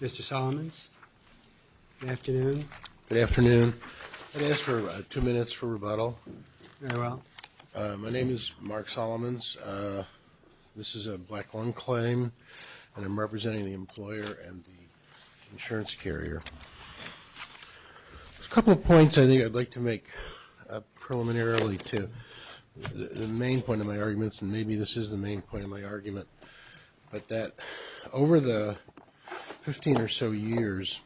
Mr. Solomons, good afternoon. Good afternoon. I'd ask for two minutes for rebuttal. My name is Mark Solomons. This is a black lung claim, and I'm representing the employer and the insurance carrier. A couple of points I think I'd like to make preliminarily to the main point of my arguments, and maybe this is the main point of my argument, but that over the 15 or so years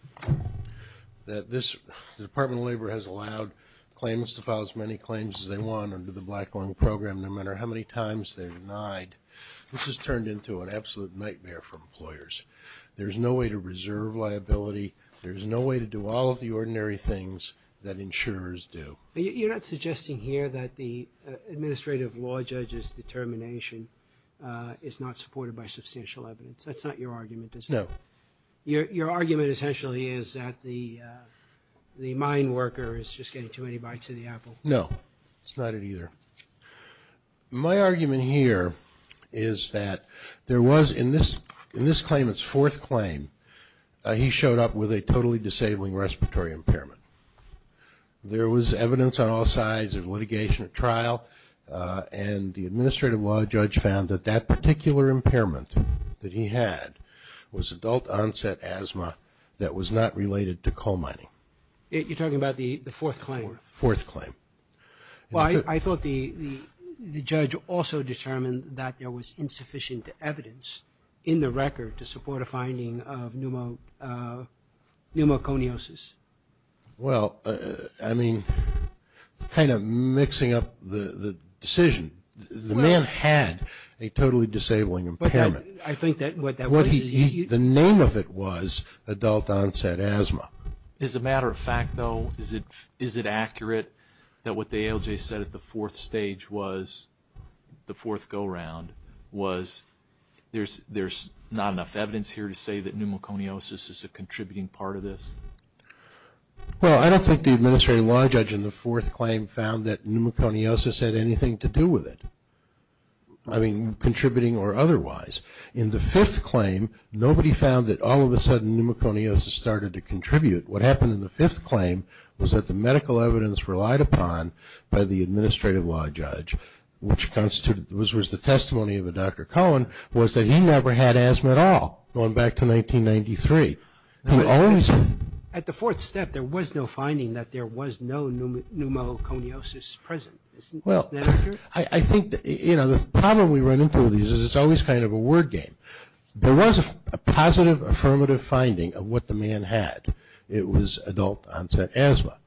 that the Department of Labor has allowed claims to file as many claims as they want under the black lung program, no matter how many times they're denied, this has turned into an absolute nightmare for employers. There's no way to reserve liability. There's no way to do all of the ordinary things that insurers do. You're not suggesting here that the administrative law judge's determination is not supported by substantial evidence. That's not your argument, is it? No. Your argument essentially is that the mine worker is just getting too many bites of the apple. No. It's not it either. My argument here is that there was, in this claim, his fourth claim. Well, I thought the judge also determined that there was insufficient evidence in the record to support a finding of pneumoconiosis. Well, I mean, kind of mixing up the decision. The man had a totally disabling impairment. I think that what that was... The name of it was adult-onset asthma. As a matter of fact, though, is it accurate that what the ALJ said at the fourth stage was, the fourth go-round was, there's not enough evidence here to say that pneumoconiosis is a contributing part of this? Well, I don't think the administrative law judge in the fourth claim found that pneumoconiosis had anything to do with it. I mean, contributing or otherwise. In the fifth claim, nobody found that all of a sudden pneumoconiosis started to contribute. What happened in the fifth claim was that the medical evidence relied upon by the administrative law judge, which constituted, was the testimony of a Dr. Cohen, was that he never had asthma at all going back to 1993. He always... At the fourth step, there was no finding that there was no pneumoconiosis present. Isn't that accurate? Well, I think that, you know, the problem we run into with these is it's always kind of a word game. There was a positive, affirmative finding of what the man had. It was adult-onset asthma.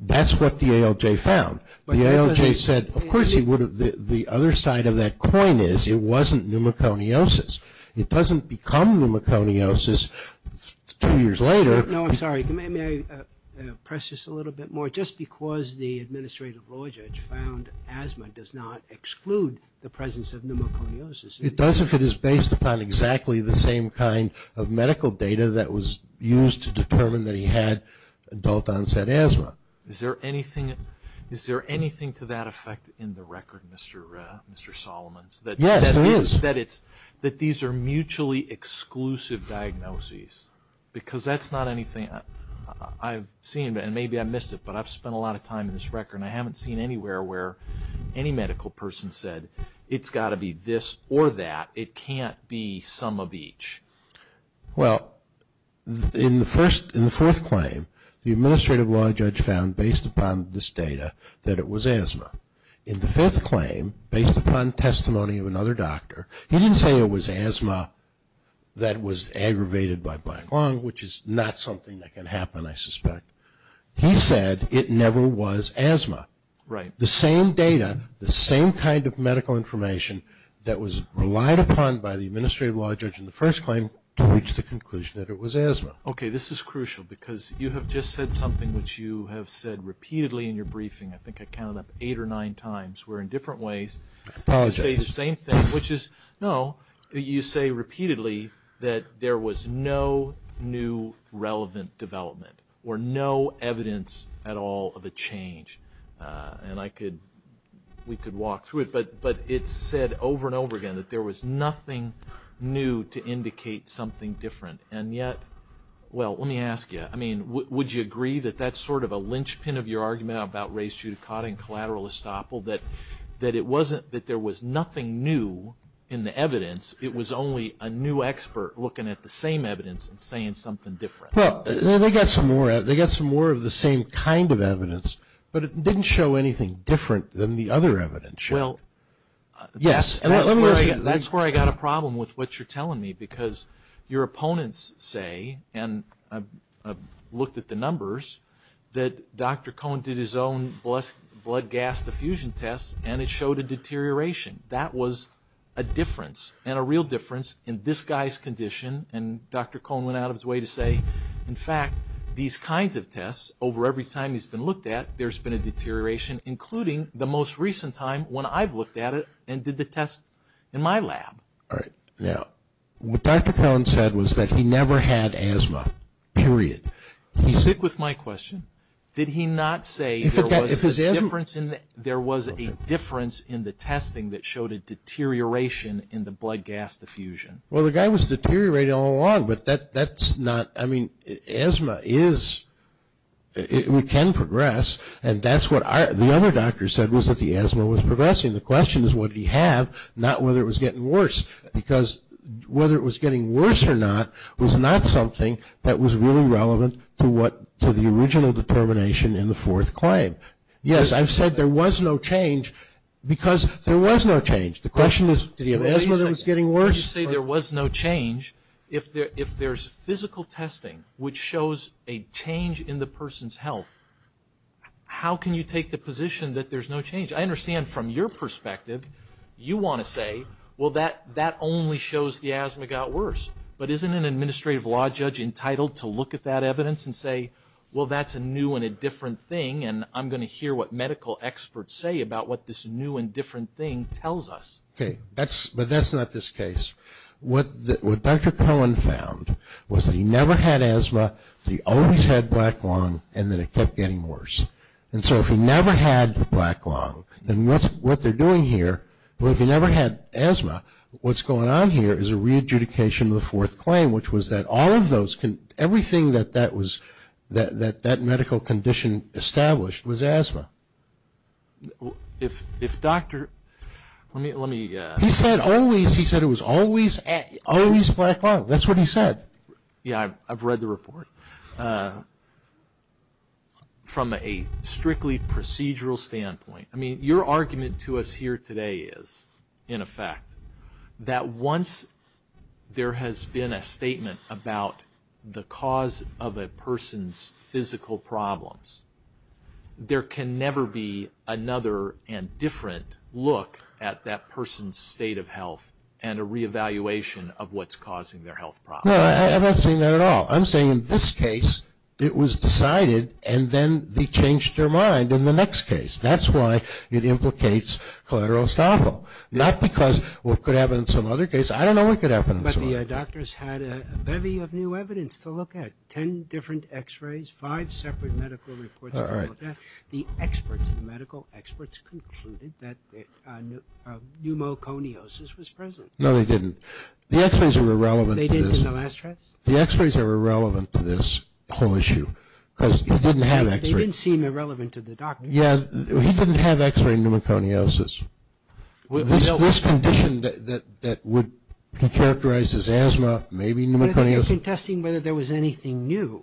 That's what the ALJ found. The ALJ said, of course he would have... The other side of that coin is it wasn't pneumoconiosis. It doesn't become pneumoconiosis two years later. No, I'm sorry. May I press this a little bit more? Just because the administrative law judge found asthma does not exclude the presence of pneumoconiosis. It does if it is based upon exactly the same kind of medical data that was used to determine that he had adult-onset asthma. Is there anything to that effect in the record, Mr. Solomon? Yes, there is. That these are mutually exclusive diagnoses? Because that's not anything I've seen, and maybe I missed it, but I've spent a lot of time in this record, and I haven't seen anywhere where any medical person said, it's got to be this or that. It can't be some of each. Well, in the fourth claim, the administrative law judge found, based upon this data, that it was asthma. In the fifth claim, based upon testimony of another doctor, he didn't say it was asthma that was aggravated by black lung, which is not something that can happen, I suspect. He said it never was asthma. The same data, the same kind of medical information that was relied upon by the administrative law judge in the first claim to reach the conclusion that it was asthma. Okay, this is crucial, because you have just said something which you have said repeatedly in your briefing. I think I counted up eight or nine times where, in different ways, you say the same thing, which is, no, you say repeatedly that there was no new relevant development or no evidence at all of a change. And I could, we could walk through it, but it's said over and over again that there was nothing new to indicate something different. And yet, well, let me ask you, I mean, would you agree that that's sort of a linchpin of your argument about race judicata and collateral estoppel, that it wasn't that there was nothing new in the evidence, it was only a new expert looking at the same evidence and saying something different? Well, they got some more of the same kind of evidence, but it didn't show anything different than the other evidence. Well, that's where I got a problem with what you're telling me, because your opponents say, and I've looked at the numbers, that Dr. Cohn did his own blood gas diffusion test and it showed a deterioration. That was a difference, and a real difference, in this guy's condition. And Dr. Cohn went out of his way to say, in fact, these kinds of tests, over every time he's been looked at, there's been a deterioration, including the most recent time when I've looked at it and did the test in my lab. All right. Now, what Dr. Cohn said was that he never had asthma, period. Stick with my question. Did he not say there was a difference in the testing that showed a deterioration in the blood gas diffusion? Well, the guy was deteriorating all along, but that's not, I mean, asthma is, it can progress, and that's what the other doctor said, was that the asthma was progressing. The question is, what did he have, not whether it was getting worse, because whether it was getting worse or not was not something that was really relevant to the original determination in the fourth claim. Yes, I've said there was no change, because there was no change. The question is, did he have asthma that was getting worse? You say there was no change. If there's physical testing which shows a change in the person's health, how can you take the position that there's no change? I understand from your perspective you want to say, well, that only shows the asthma got worse, but isn't an administrative law judge entitled to look at that evidence and say, well, that's a new and a different thing, and I'm going to hear what medical experts say about what this new and different thing tells us? Okay. But that's not this case. What Dr. Cohn found was that he never had asthma, he always had black lung, and then it kept getting worse. And so if he never had the black lung, then what they're doing here, well, if he never had asthma, what's going on here is a re-adjudication of the fourth claim, which was that all of those, everything that that medical condition established was asthma. If Dr. Let me He said always, he said it was always black lung. That's what he said. Yeah, I've read the report. From a strictly procedural standpoint, I mean, your argument to us here today is, in effect, that once there has been a statement about the cause of a person's physical problems, there can never be another and different look at that their health problem. No, I'm not saying that at all. I'm saying in this case, it was decided, and then they changed their mind in the next case. That's why it implicates collateral estoppel. Not because what could happen in some other case. I don't know what could happen in some other case. But the doctors had a bevy of new evidence to look at. Ten different x-rays, five separate medical reports to look at. The experts, the medical experts, concluded that pneumoconiosis was present. No, they didn't. The x-rays were irrelevant to this whole issue, because he didn't have x-rays. They didn't seem irrelevant to the doctor. Yeah, he didn't have x-ray pneumoconiosis. This condition that would characterize as asthma, maybe pneumoconiosis. But they were contesting whether there was anything new.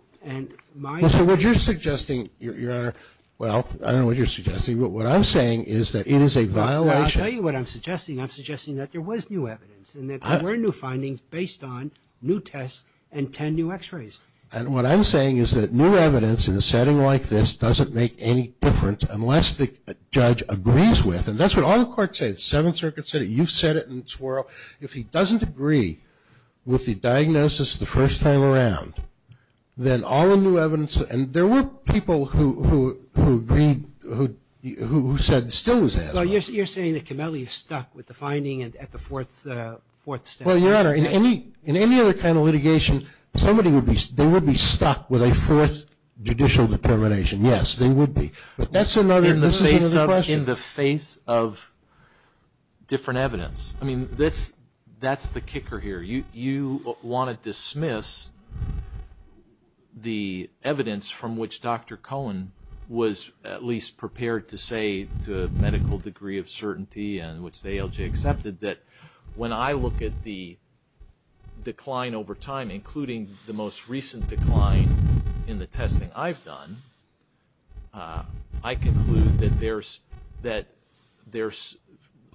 Well, what you're suggesting, Your Honor, well, I don't know what you're suggesting, what I'm saying is that it is a violation. Well, I'll tell you what I'm suggesting. I'm suggesting that there was new evidence, and that there were new findings based on new tests and ten new x-rays. And what I'm saying is that new evidence in a setting like this doesn't make any difference unless the judge agrees with it. And that's what all the courts say. The Seventh Circuit said it. You've said it in a twirl. If he doesn't agree with the diagnosis the first time around, then all the new evidence, and there were people who agreed, who said it still was asthma. Well, you're saying that Kemele is stuck with the finding at the fourth step. Well, Your Honor, in any other kind of litigation, somebody would be, they would be stuck with a fourth judicial determination. Yes, they would be. But that's another, this is another question. In the face of different evidence. I mean, that's the kicker here. You want to dismiss the evidence from which Dr. Cohen was at least prepared to say to a medical degree of certainty and which the ALJ accepted, that when I look at the decline over time, including the most recent decline in the testing I've done, I conclude that there's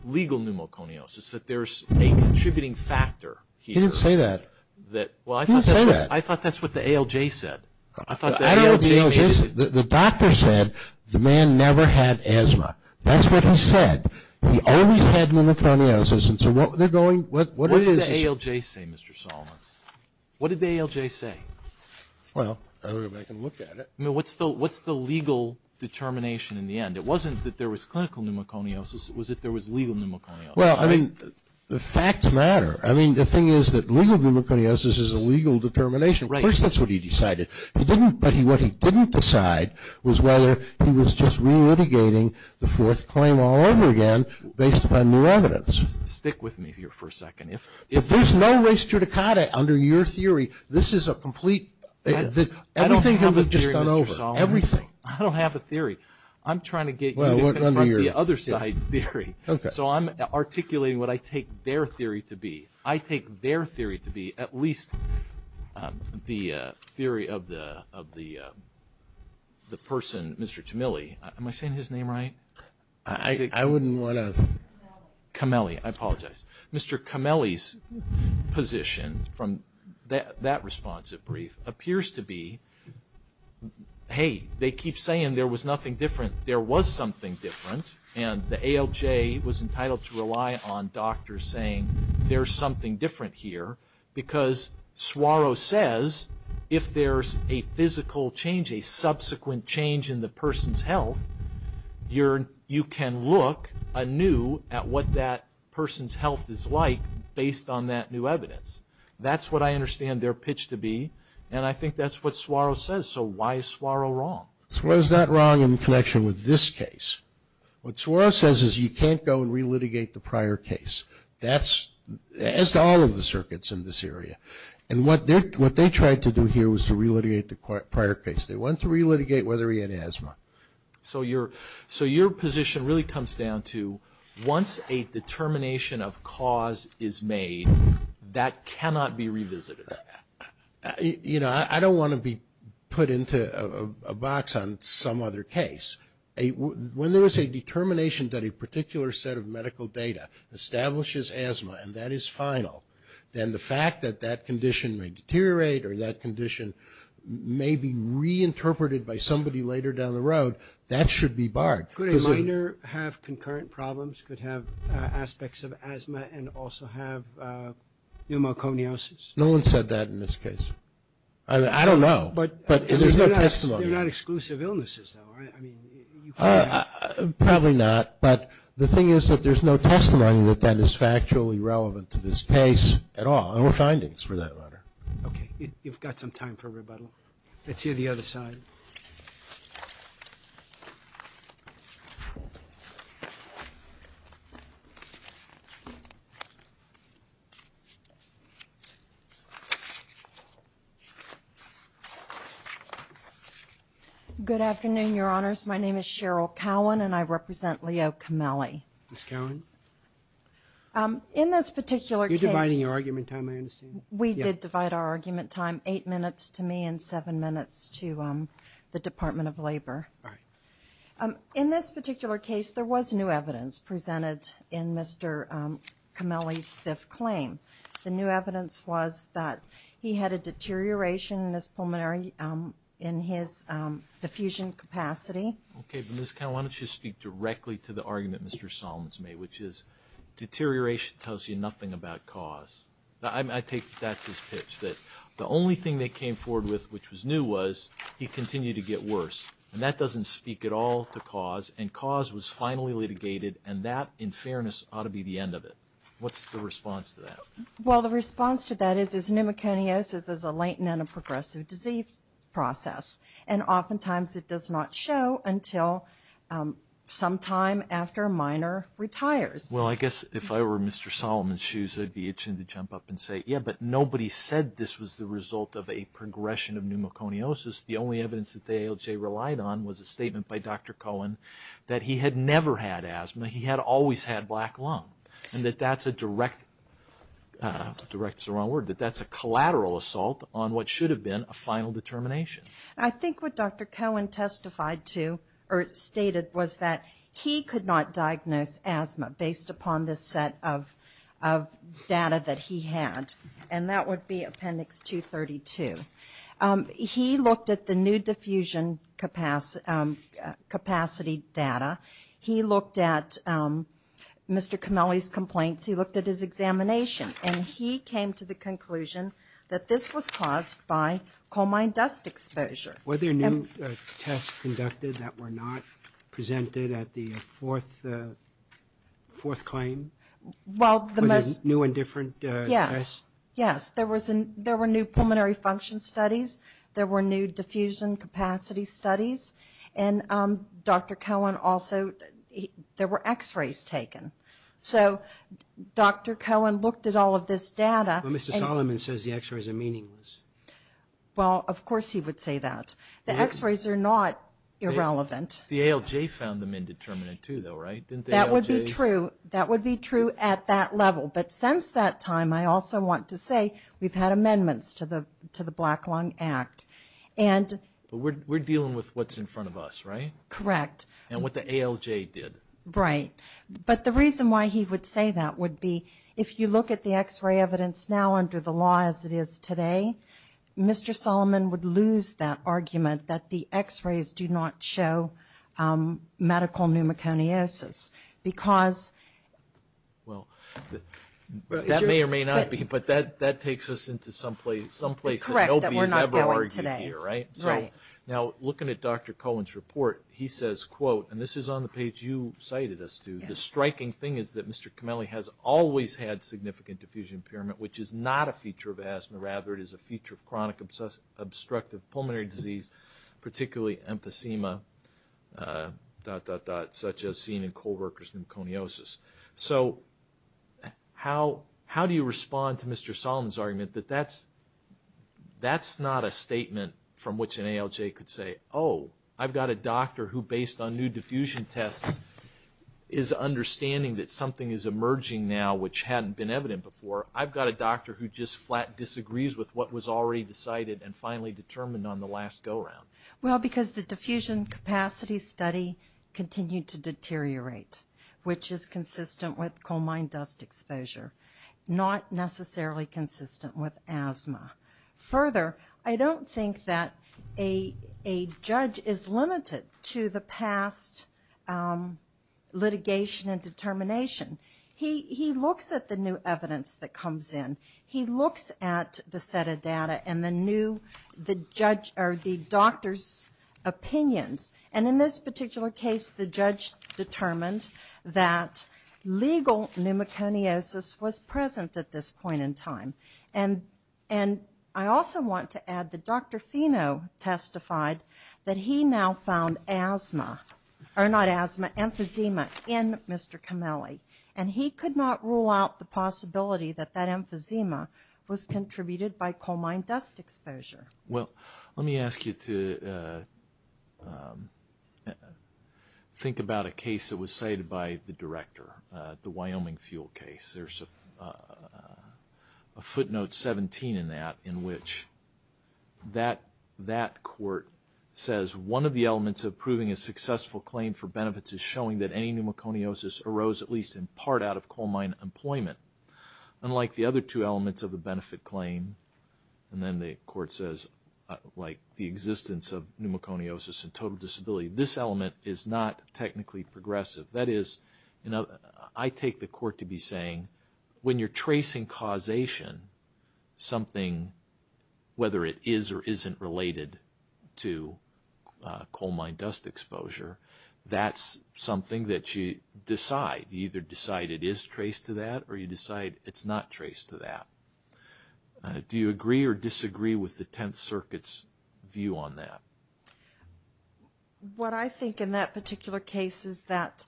legal pneumoconiosis, that there's a contributing factor here. He didn't say that. He didn't say that. I thought that's what the ALJ said. I don't know what the ALJ said. The doctor said the man never had asthma. That's what he said. He always had pneumoconiosis, and so what they're going, what it is... What did the ALJ say, Mr. Solomon? What did the ALJ say? Well, I don't know if I can look at it. I mean, what's the legal determination in the end? It wasn't that there was clinical pneumoconiosis, it was that there was legal pneumoconiosis, right? Well, I mean, the facts matter. I mean, the thing is that legal pneumoconiosis is a legal determination. First, that's what he decided. He didn't, but what he didn't decide was whether he was just re-litigating the fourth claim all over again based upon new evidence. Stick with me here for a second. If there's no res judicata under your theory, this is a complete... I don't have a theory, Mr. Solomon. I don't have a theory. I'm trying to get you to confront the other side's theory, so I'm articulating what I take their theory to be. I take their theory to be at least the theory of the person, Mr. Tameli. Am I saying his name right? I wouldn't want to... Kameli, I apologize. Mr. Kameli's position from that responsive brief appears to be, hey, they keep saying there was nothing different. There was something different, and the ALJ was entitled to rely on doctors saying there's something different here, because Suaro says if there's a physical change, a subsequent change in the person's health, you can look anew at what that person's health is like based on that new evidence. That's what I understand their pitch to be, and I think that's what Suaro says, so why is Suaro wrong? Suaro's not wrong in connection with this case. What Suaro says is you can't go and re-litigate the prior case. That's... as to all of the circuits in this area, and what they tried to do here was to re-litigate the prior case. They went to re-litigate whether he had asthma. So your position really comes down to once a determination of cause is made, that cannot be revisited? You know, I don't want to be put into a box on some other case. When there is a determination that a particular set of medical data establishes asthma, and that is final, then the fact that that condition may deteriorate or that condition may be reinterpreted by somebody later down the road, that should be barred. Could a minor have concurrent problems, could have aspects of asthma, and also have pneumoconiosis? No one said that in this case. I don't know, but there's no testimony. They're not exclusive illnesses, though, right? Probably not, but the thing is that there's no testimony that that is factually relevant to this case at all, or findings for that matter. Okay. You've got some time for rebuttal. Let's hear the other side. Good afternoon, Your Honors. My name is Cheryl Cowan, and I represent Leo Camelli. Ms. Cowan? In this particular case... You're dividing your argument time, I understand. We did divide our argument time eight minutes to me and seven minutes to the Department of Labor. In this particular case, there was new evidence presented in Mr. Camelli's fifth claim. The new evidence was that he had a deterioration in his pulmonary, in his diffusion capacity. Okay, but Ms. Cowan, why don't you speak directly to the argument Mr. Solomons made, which is deterioration tells you nothing about cause. I take that's his pitch, that the only thing they came forward with which was new was he continued to get worse, and that doesn't speak at all to cause, and cause was finally litigated, and that, in fairness, ought to be the end of it. What's the response to that? Well, the response to that is pneumoconiosis is a latent and a progressive disease process, and oftentimes it does not show until sometime after a minor retires. Well, I guess if I were Mr. Solomons' shoes, I'd be itching to jump up and say, yeah, but nobody said this was the result of a progression of pneumoconiosis. The only evidence that the ALJ relied on was a statement by Dr. Cowan that he had never had asthma. He had always had black lung, and that that's a direct, direct is the wrong word, that that's a collateral assault on what should have been a final determination. I think what Dr. Cowan testified to, or stated, was that he could not diagnose asthma based upon this set of data that he had, and that would be Appendix 232. He looked at the new Mr. Comelli's complaints, he looked at his examination, and he came to the conclusion that this was caused by coalmine dust exposure. Were there new tests conducted that were not presented at the fourth claim? Were there new and different tests? Yes. Yes. There were new pulmonary function studies. There were new diffusion capacity studies. And Dr. Cowan also, there were x-rays taken. So Dr. Cowan looked at all of this data and But Mr. Solomon says the x-rays are meaningless. Well, of course he would say that. The x-rays are not irrelevant. The ALJ found them indeterminate too, though, right? Didn't the ALJs? That would be true at that level. But since that time, I also want to say we've had amendments to the Black Lung Act. But we're dealing with what's in front of us, right? Correct. And what the ALJ did. Right. But the reason why he would say that would be if you look at the x-ray evidence now under the law as it is today, Mr. Solomon would lose that argument that the x-rays do not show medical pneumoconiosis because Well, that may or may not be, but that takes us into someplace that LBs have a larger argument here, right? Right. Now looking at Dr. Cowan's report, he says, quote, and this is on the page you cited us to, the striking thing is that Mr. Comelli has always had significant diffusion impairment, which is not a feature of asthma. Rather, it is a feature of chronic obstructive pulmonary disease, particularly emphysema, dot, dot, dot, such as seen in coworkers' pneumoconiosis. So how do you respond to Mr. Solomon's argument that that's not a statement that from which an ALJ could say, oh, I've got a doctor who, based on new diffusion tests, is understanding that something is emerging now which hadn't been evident before. I've got a doctor who just flat disagrees with what was already decided and finally determined on the last go-round. Well, because the diffusion capacity study continued to deteriorate, which is consistent with coal mine dust exposure, not necessarily consistent with asthma. Further, I don't think that a judge is limited to the past litigation and determination. He looks at the new evidence that comes in. He looks at the set of data and the new, the judge, or the doctor's opinions. And in this particular case, the judge determined that legal pneumoconiosis was present at this time. And the judge testified that he now found asthma, or not asthma, emphysema in Mr. Camelli. And he could not rule out the possibility that that emphysema was contributed by coal mine dust exposure. Well, let me ask you to think about a case that was cited by the director, the Wyoming District Court. That court says, one of the elements of proving a successful claim for benefits is showing that any pneumoconiosis arose at least in part out of coal mine employment. Unlike the other two elements of a benefit claim, and then the court says, like the existence of pneumoconiosis and total disability, this element is not technically progressive. That is, I take the court to be saying, when you're tracing causation, something, whether it is or isn't related to coal mine dust exposure, that's something that you decide. You either decide it is traced to that, or you decide it's not traced to that. Do you agree or disagree with the Tenth Circuit's view on that? What I think in that particular case is that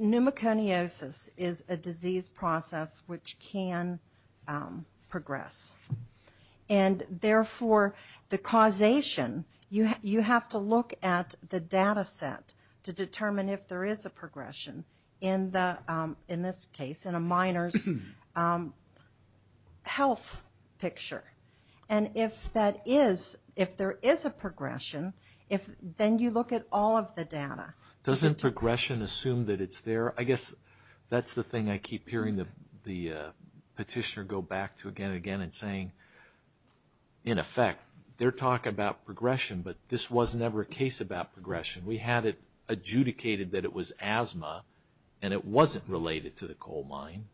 pneumoconiosis is a disease process which can progress. And therefore, the causation, you have to look at the data set to determine if there is a progression in this case, in a miner's health picture. And if that is, if there is a progression, then you look at all of the data. Doesn't progression assume that it's there? I guess that's the thing I keep hearing the petitioner go back to again and again and saying, in effect, they're talking about progression, but this was never a case about progression. We had it adjudicated that it was asthma, and it wasn't related to the coal mine.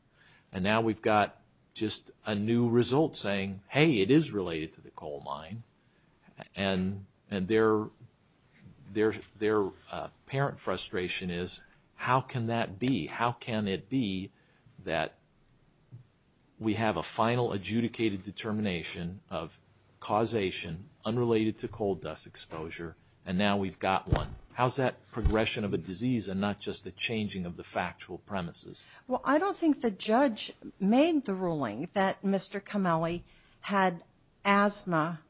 And now we've got just a new result saying, hey, it is related to the coal mine. And their apparent frustration is, how can that be? How can it be that we have a final adjudicated determination of causation unrelated to coal dust exposure, and now we've got one? How's that progression of a disease and not just the changing of the factual premises? Well, I don't think the judge made the ruling that Mr. Comelli had asthma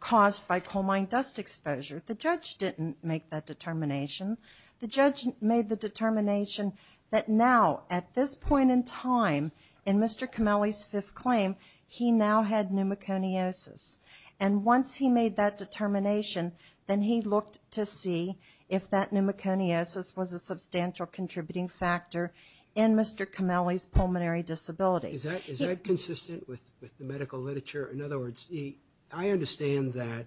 caused by coal mine dust exposure. The judge didn't make that determination. The judge made the determination that now, at this point in time, in Mr. Comelli's fifth claim, he now had pneumoconiosis. And once he made that determination, then he looked to see if that pneumoconiosis was a substantial contributing factor in Mr. Comelli's pulmonary disability. Is that consistent with the medical literature? In other words, I understand that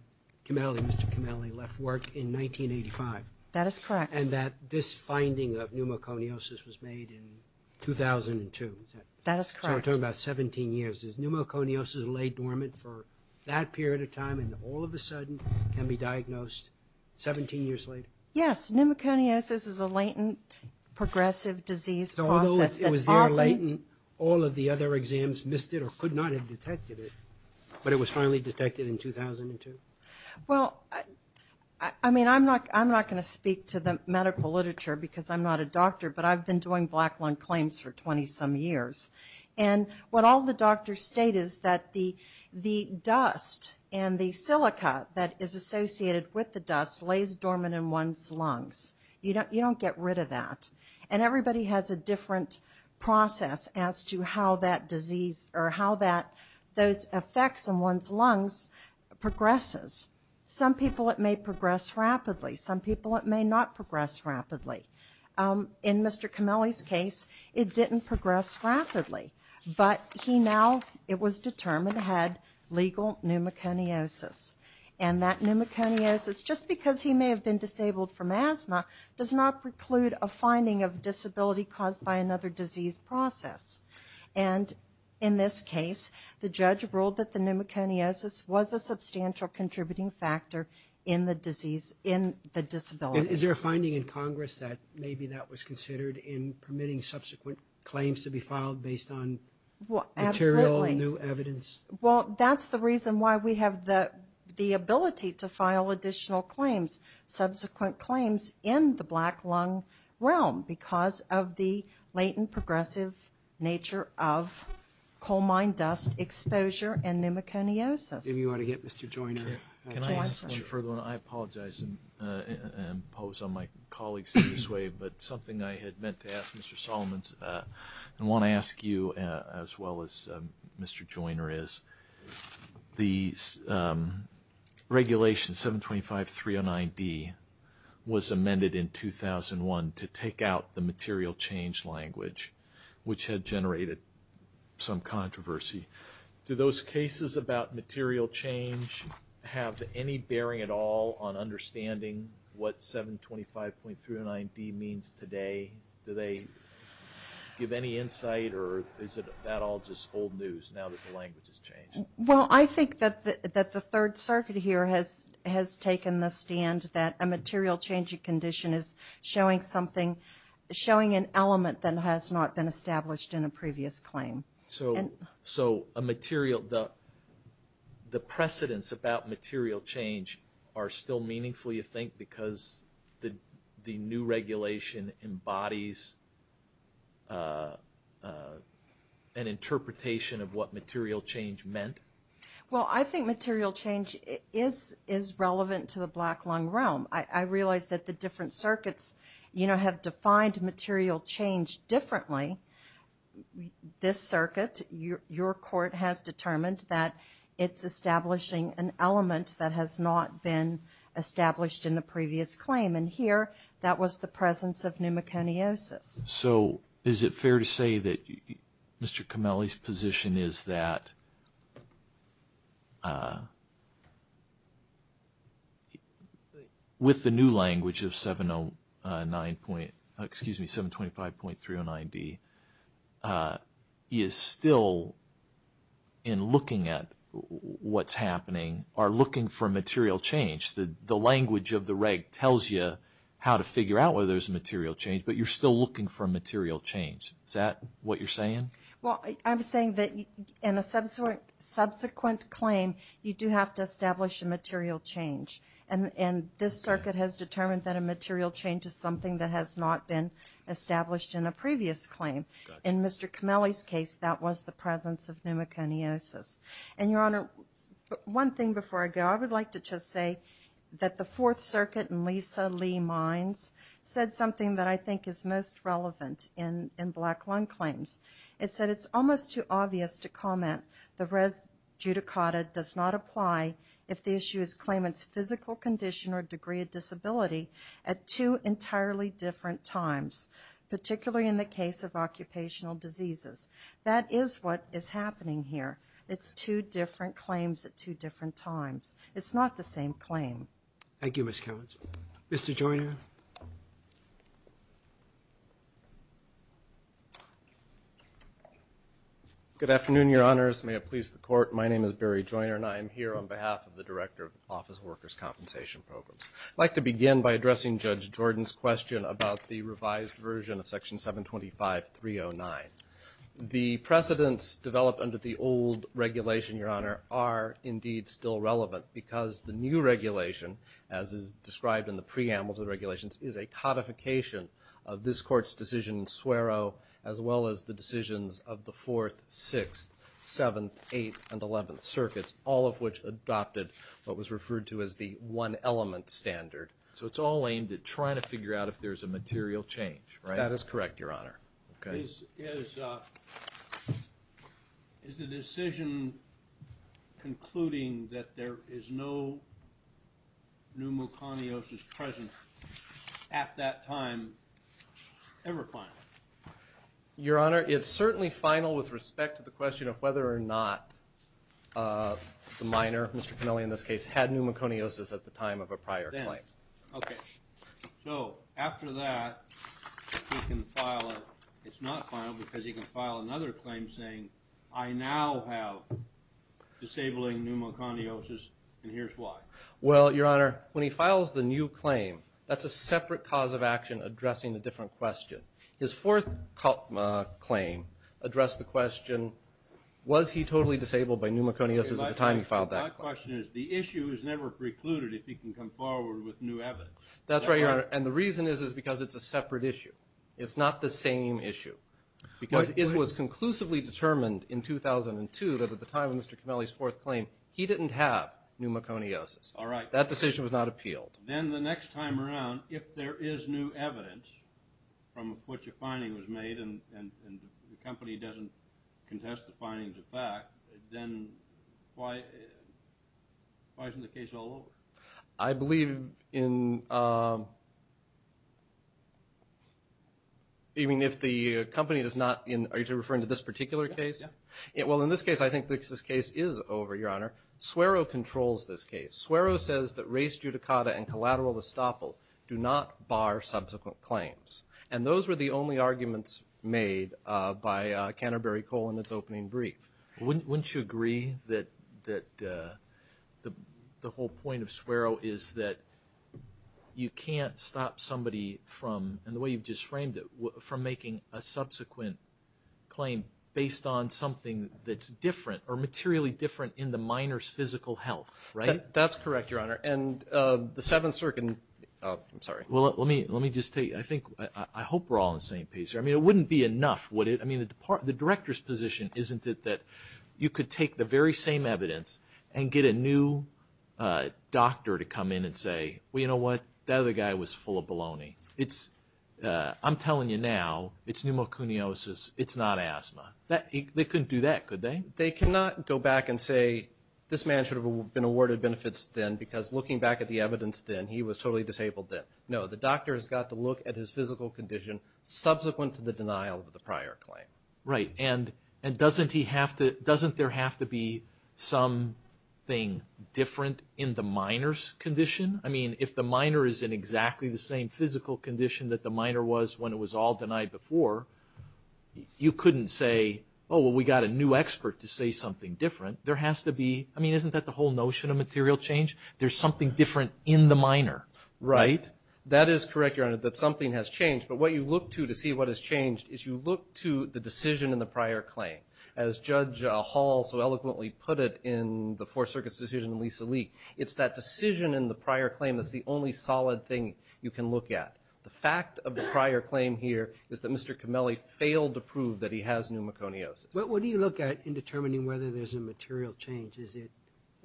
Mr. Comelli left work in 1985. That is correct. And that this finding of pneumoconiosis was made in 2002. That is correct. So we're talking about 17 years. Is pneumoconiosis late dormant for that period of time, and all of a sudden can be diagnosed 17 years later? Yes. Pneumoconiosis is a latent progressive disease process that often... So although it was there latent, all of the other exams missed it or could not have detected it, but it was finally detected in 2002? Well, I mean, I'm not going to speak to the medical literature because I'm not a doctor, but I've been doing black lung claims for 20-some years. And what all the doctors state is that the dust and the silica that is associated with the dust lays dormant in one's lungs. You don't get rid of that. And everybody has a different process as to how that disease or how those effects in one's lungs progresses. Some people it may progress rapidly. Some people it may not progress rapidly. In Mr. Comelli's case, it didn't progress rapidly. But he now, it was determined, had legal pneumoconiosis. And that pneumoconiosis, just because he may have been disabled from asthma, does not preclude a finding of disability caused by another disease process. And in this case, the judge ruled that the pneumoconiosis was a substantial contributing factor in the disease, in the disability. Is there a finding in Congress that maybe that was considered in permitting subsequent claims to be filed based on material, new evidence? Well, absolutely. Well, that's the reason why we have the ability to file additional claims, subsequent claims, in the black lung realm because of the latent progressive nature of coal mine dust exposure and pneumoconiosis. If you want to get Mr. Joyner, can I ask you further? I apologize and impose on my colleagues in this way, but something I had meant to ask Mr. Solomon and want to ask you as well as Mr. Joyner is, the regulation 725.309D was amended in 2001 to take out the material change language, which had generated some controversy. Do those cases about material change have any bearing at all on understanding what 725.309D means today? Do they give any insight or is that all just old news now that the language has changed? Well, I think that the Third Circuit here has taken the stand that a material change condition is showing an element that has not been established in a previous claim. So the precedence about material change are still meaningful, you think, because the new regulation embodies an interpretation of what material change meant? Well, I think material change is relevant to the black lung realm. I realize that the Third Circuit, your court has determined that it's establishing an element that has not been established in a previous claim. And here, that was the presence of pneumoconiosis. So is it fair to say that Mr. Comelli's position is that with the new language of 725.309D is still, in looking at what's happening, are looking for material change? The language of the reg tells you how to figure out whether there's a material change, but you're still looking for a material change. Is that what you're saying? Well, I'm saying that in a subsequent claim, you do have to establish a material change. And this Circuit has determined that a material change is something that has not been established in a previous claim. In Mr. Comelli's case, that was the presence of pneumoconiosis. And Your Honor, one thing before I go, I would like to just say that the Fourth Circuit in Lisa Lee Mines said something that I think is most relevant in black lung claims. It said it's almost too obvious to comment the res judicata does not apply if the issue is a claimant's physical condition or degree of disability at two entirely different times, particularly in the case of occupational diseases. That is what is happening here. It's two different claims at two different times. It's not the same claim. Thank you, Ms. Cowens. Mr. Joyner? Good afternoon, Your Honors. May it please the Court, my name is Barry Joyner, and I work in the Office of Workers' Compensation Programs. I'd like to begin by addressing Judge Jordan's question about the revised version of Section 725.309. The precedents developed under the old regulation, Your Honor, are indeed still relevant because the new regulation, as is described in the preamble to the regulations, is a codification of this Court's decision in Swero, as well as the decisions of the Fourth, Sixth, Seventh, Eighth, and Eleventh Circuits, all of which adopted what was referred to as the one-element standard. So it's all aimed at trying to figure out if there's a material change, right? That is correct, Your Honor. Is the decision concluding that there is no pneumoconiosis present at that time ever final? Your Honor, it's certainly final with respect to the question of whether or not the minor, Mr. Pennelly in this case, had pneumoconiosis at the time of a prior claim. Then, okay. So after that, he can file a, it's not final because he can file another claim saying, I now have disabling pneumoconiosis and here's why. Well, Your Honor, when he files the new claim, that's a separate cause of action addressing a different question. His fourth claim addressed the question, was he totally disabled by pneumoconiosis at the time he filed that claim? My question is, the issue is never precluded if he can come forward with new evidence. That's right, Your Honor. And the reason is because it's a separate issue. It's not the same issue. Because it was conclusively determined in 2002 that at the time of Mr. Pennelly's fourth claim, he didn't have pneumoconiosis. All right. That decision was not appealed. Then the next time around, if there is new evidence from which a finding was made and the company doesn't contest the findings of fact, then why isn't the case all over? I believe in, even if the company does not, are you referring to this particular case? Well, in this case, I think because this case is over, Your Honor, Swerow controls this case. Swerow says that race judicata and collateral estoppel do not bar subsequent claims. And those were the only arguments made by Canterbury Coal in its opening brief. Wouldn't you agree that the whole point of Swerow is that you can't stop somebody from, and the way you've just framed it, from making a subsequent claim based on something that's different or materially different in the miner's physical health, right? That's correct, Your Honor. And the Seventh Circuit, I'm sorry. Well, let me just tell you, I think, I hope we're all on the same page here. I mean, it wouldn't be enough, would it? I mean, the Director's position isn't it that you could take the very same evidence and get a new doctor to come in and say, well, you know what, that other guy was full of baloney. I'm telling you now, it's pneumoconiosis, it's not asthma. They couldn't do that, could they? They cannot go back and say, this man should be, he was totally disabled then. No, the doctor has got to look at his physical condition subsequent to the denial of the prior claim. Right, and doesn't there have to be something different in the miner's condition? I mean, if the miner is in exactly the same physical condition that the miner was when it was all denied before, you couldn't say, oh, well, we got a new expert to say something different. There has to be, I mean, isn't that the whole notion of material change? There's something different in the miner, right? That is correct, Your Honor, that something has changed, but what you look to to see what has changed is you look to the decision in the prior claim. As Judge Hall so eloquently put it in the Fourth Circuit's decision in Lisa Lee, it's that decision in the prior claim that's the only solid thing you can look at. The fact of the prior claim here is that Mr. Comelli failed to prove that he has pneumoconiosis. What do you look at in determining whether there's a material change? Is it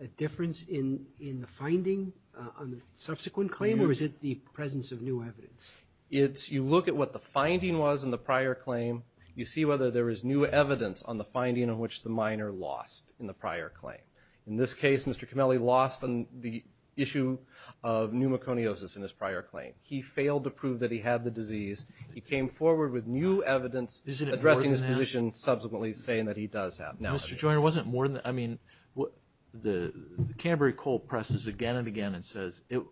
a difference in the finding on the subsequent claim, or is it the presence of new evidence? You look at what the finding was in the prior claim. You see whether there is new evidence on the finding on which the miner lost in the prior claim. In this case, Mr. Comelli lost on the issue of pneumoconiosis in his prior claim. He failed to prove that he had the disease. He came forward with new evidence addressing his position subsequently. He's saying that he does have pneumoconiosis. Mr. Joyner, wasn't more than, I mean, the Canterbury Coal presses again and again and says it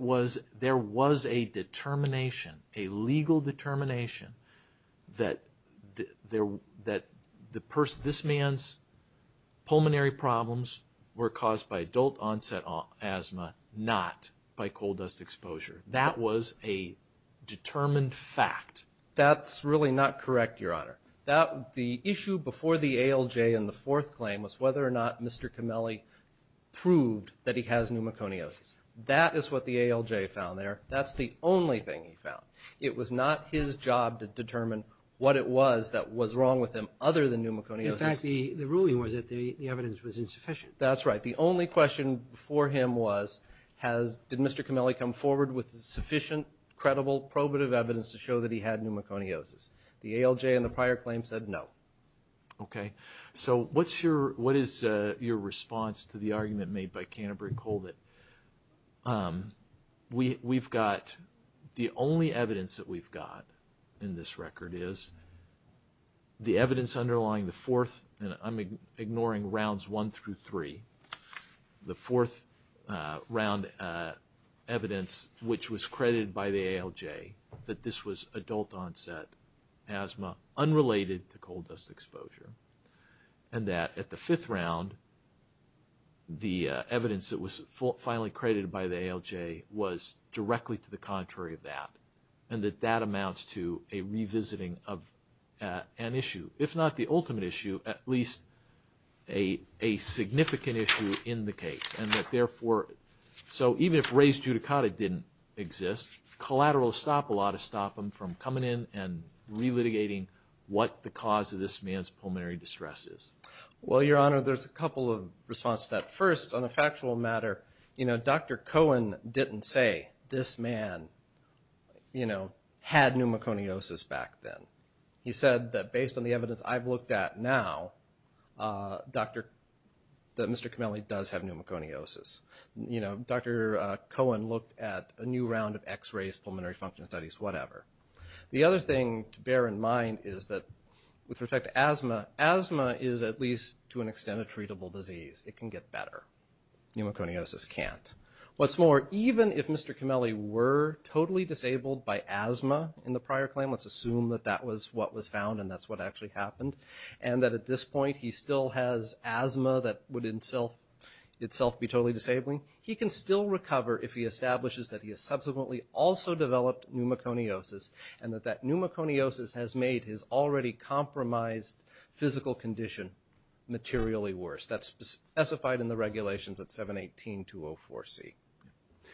was, there was a determination, a legal determination that this man's pulmonary problems were caused by adult onset asthma, not by coal dust exposure. That was a determined fact. That's really not correct, Your Honor. The issue before the ALJ in the fourth claim was whether or not Mr. Comelli proved that he has pneumoconiosis. That is what the ALJ found there. That's the only thing he found. It was not his job to determine what it was that was wrong with him other than pneumoconiosis. In fact, the ruling was that the evidence was insufficient. That's right. The only question for him was, did Mr. Comelli come forward with sufficient, credible, probative evidence to show that he had pneumoconiosis? The ALJ in the prior claim said no. Okay. So what is your response to the argument made by Canterbury Coal that we've got, the only evidence that we've got in this record is the evidence underlying the fourth, and by the ALJ, that this was adult onset asthma unrelated to coal dust exposure, and that at the fifth round, the evidence that was finally credited by the ALJ was directly to the contrary of that, and that that amounts to a revisiting of an issue, if not the ultimate issue, at least a significant issue in the case, and that therefore, so even if raised adjudicata didn't exist, collateral stop will ought to stop him from coming in and relitigating what the cause of this man's pulmonary distress is. Well, Your Honor, there's a couple of responses to that. First, on a factual matter, you know, Dr. Cohen didn't say this man, you know, had pneumoconiosis back then. He said that based on the evidence I've looked at now, Dr., that Mr. Comelli does have pneumoconiosis. You can look at a new round of x-rays, pulmonary function studies, whatever. The other thing to bear in mind is that with respect to asthma, asthma is at least to an extent a treatable disease. It can get better. Pneumoconiosis can't. What's more, even if Mr. Comelli were totally disabled by asthma in the prior claim, let's assume that that was what was found and that's what actually happened, and that at this point, he still has asthma that would in itself be totally disabling, he can still recover if he establishes that he has subsequently also developed pneumoconiosis and that that pneumoconiosis has made his already compromised physical condition materially worse. That's specified in the regulations at 718-204C.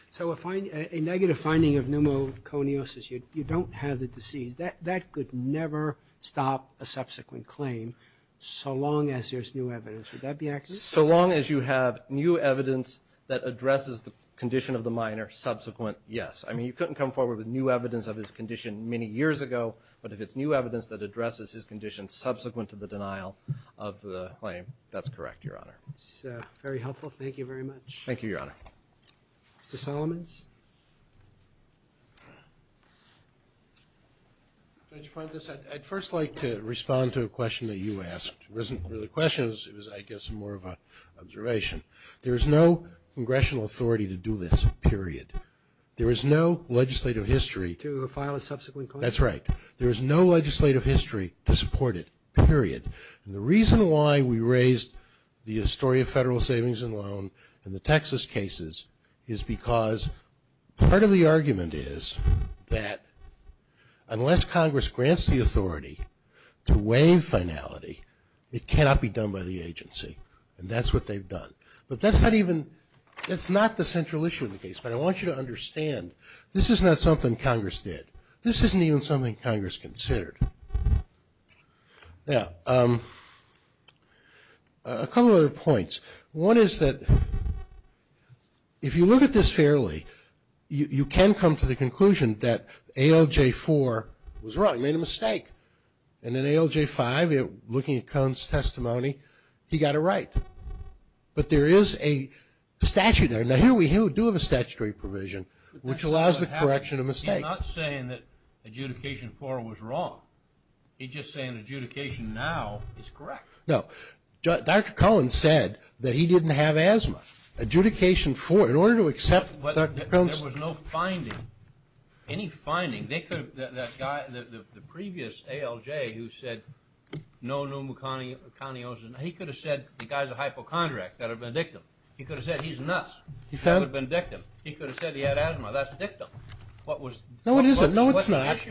So a negative finding of pneumoconiosis, you don't have the disease. That could never stop a subsequent claim so long as there's new evidence. Would that be accurate? So long as you have new evidence that addresses the condition of the minor subsequent, yes. I mean, you couldn't come forward with new evidence of his condition many years ago, but if it's new evidence that addresses his condition subsequent to the denial of the claim, that's correct, Your Honor. That's very helpful. Thank you very much. Thank you, Your Honor. Mr. Solomons? Judge Fuentes, I'd first like to respond to a question that you asked. It wasn't really a question. It was, I guess, more of an observation. There is no congressional authority to do this, period. There is no legislative history to file a subsequent claim. That's right. There is no legislative history to support it, period. And the reason why we raised the story of federal savings and loan in the Texas cases is because part of the argument is that unless Congress grants the authority to waive finality, it cannot be done by the agency. And that's what they've done. But that's not even, that's not the central issue of the case. But I want you to understand, this is not something Congress did. This isn't even something Congress considered. Now, a couple other points. One is that if you look at this fairly, you can come to the right. But there is a statute there. Now, here we do have a statutory provision, which allows the correction of mistakes. He's not saying that adjudication four was wrong. He's just saying adjudication now is correct. No. Dr. Cohen said that he didn't have asthma. Adjudication four, in order to accept Dr. Combs... There was no finding, any finding. They could have, that guy, the previous ALJ who said no pneumoconiosis, he could have said the guy's a hypochondriac. That would have been dictum. He could have said he's nuts. That would have been dictum. He could have said he had asthma. That's dictum. No, it isn't. No, it's not. What the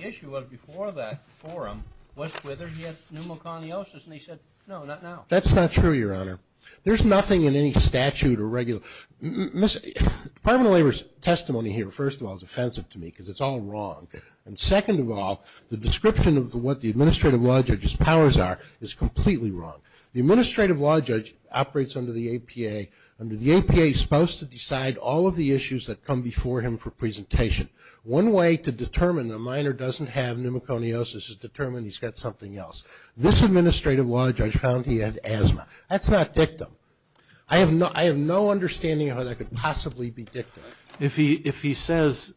issue was before that forum was whether he had pneumoconiosis. And he said, no, not now. That's not true, Your Honor. There's nothing in any statute or regular... Department of Labor's testimony here, first of all, is offensive to me, because it's all wrong. And second of all, the description of what the Administrative Law Judge's powers are is completely wrong. The Administrative Law Judge operates under the APA. Under the APA, he's supposed to decide all of the issues that come before him for presentation. One way to determine a minor doesn't have pneumoconiosis is to determine he's got something else. This Administrative Law Judge found he had asthma. That's not dictum. I have no understanding of how that could possibly be dictum. If he says,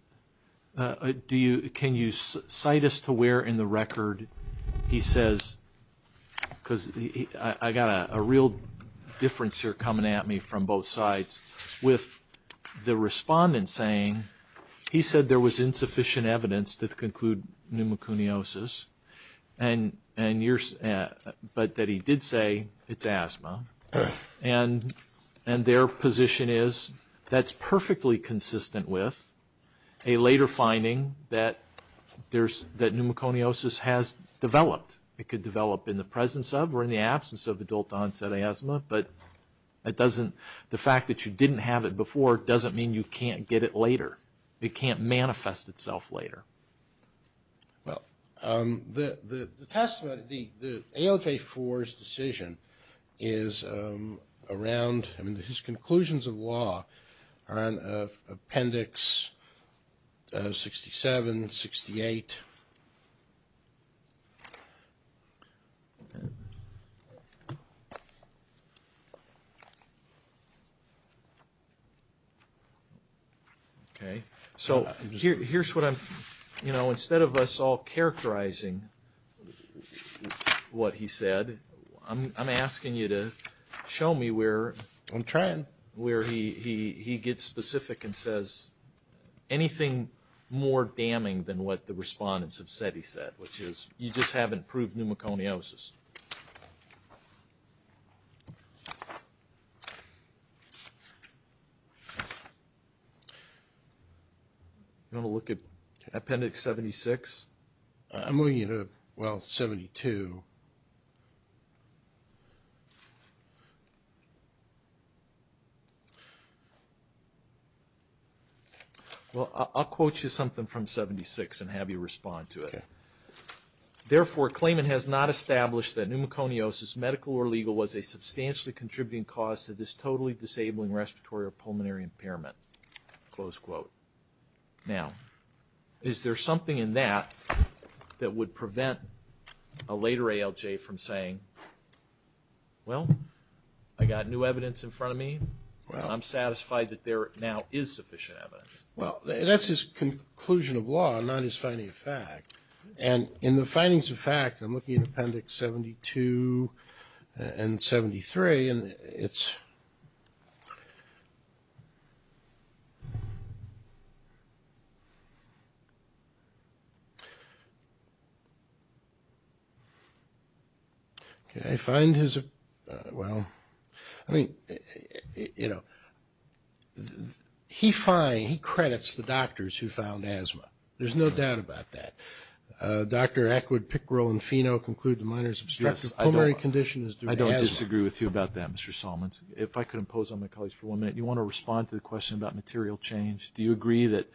can you cite us to where in the record he says, because I got a real difference here coming at me from both sides, with the respondent saying he said there was insufficient evidence to conclude pneumoconiosis, but that he did say it's asthma. And their position is that's perfectly consistent with a later finding that pneumoconiosis has developed. It could develop in the presence of or in the absence of adult-onset asthma, but the fact that you didn't have it before doesn't mean you can't get it later. It can't manifest itself later. Well, the ALJ-4's decision is around, I mean, his conclusions of law are in Appendix 67, 68. Okay. So here's what I'm, you know, instead of us all characterizing what he said, I'm asking you to show me where he gets specific and says anything more damning than what the respondents have said he said, which is you just haven't proved pneumoconiosis. You want to look at Appendix 76? I'm looking at, well, 72. Well, I'll quote you something from 76 and have you respond to it. Okay. Therefore, claimant has not established that pneumoconiosis, medical or legal, was a substantially contributing cause to this totally disabling respiratory or pulmonary impairment. Now, is there something in that that would prevent a later ALJ from saying, well, I got new evidence in front of me. I'm satisfied that there now is sufficient evidence. Well, that's his conclusion of law, not his finding of fact. And in the findings of fact, I'm looking at Appendix 72 and 73, and it's, okay. I find his, well, I mean, you know, he finds, he credits the doctors who found asthma. There's no doubt about that. Dr. Ackwood, Pickrell, and Fino conclude the minor's obstructive pulmonary condition is due to asthma. I don't disagree with you about that, Mr. Solomons. If I could impose on my colleagues for one minute, you want to respond to the question about material change. Do you agree that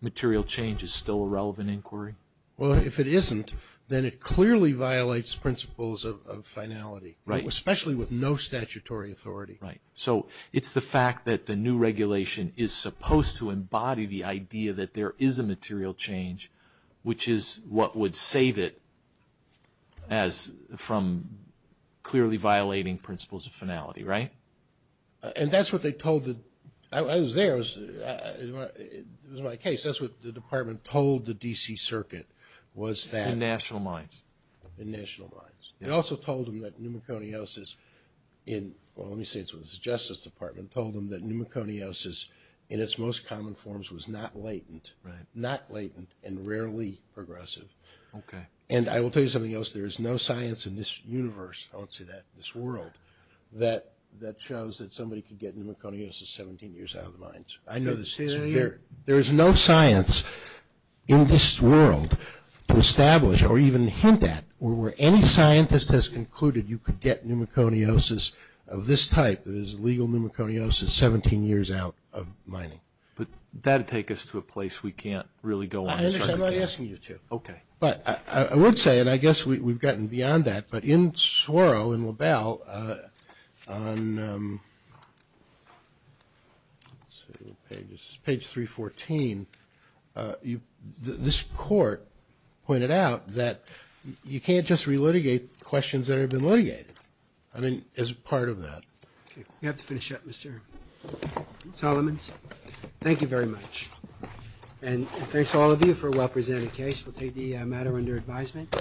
material change is still a relevant inquiry? Well, if it isn't, then it clearly violates principles of finality. Right. Especially with no statutory authority. Right. So it's the fact that the new regulation is supposed to embody the idea that there is a material change, which is what would save it as from clearly violating principles of finality, right? And that's what they told the, I was there, it was my case, that's what the Department told the D.C. Circuit, was that. In national minds. In national minds. It also told them that pneumoconiosis in, well, let me say it's the Justice Department, told them that pneumoconiosis in its most common forms was not latent. Right. Not latent, and rarely progressive. Okay. And I will tell you something else. There is no science in this universe, I won't say that, this world, that shows that somebody could get pneumoconiosis 17 years out of the mines. Say that again? There is no science in this world to establish, or even hint at, where any scientist has concluded you could get pneumoconiosis of this type, that is legal pneumoconiosis, 17 years out of mining. But that would take us to a place we can't really go on. I understand what I'm asking you to. Okay. But I would say, and I guess we've gotten beyond that, but in Swarrow, in LaBelle, on I mean, as part of that. Okay. We have to finish up, Mr. Solomons. Thank you very much. And thanks to all of you for a well-presented case. We'll take the matter under advisement.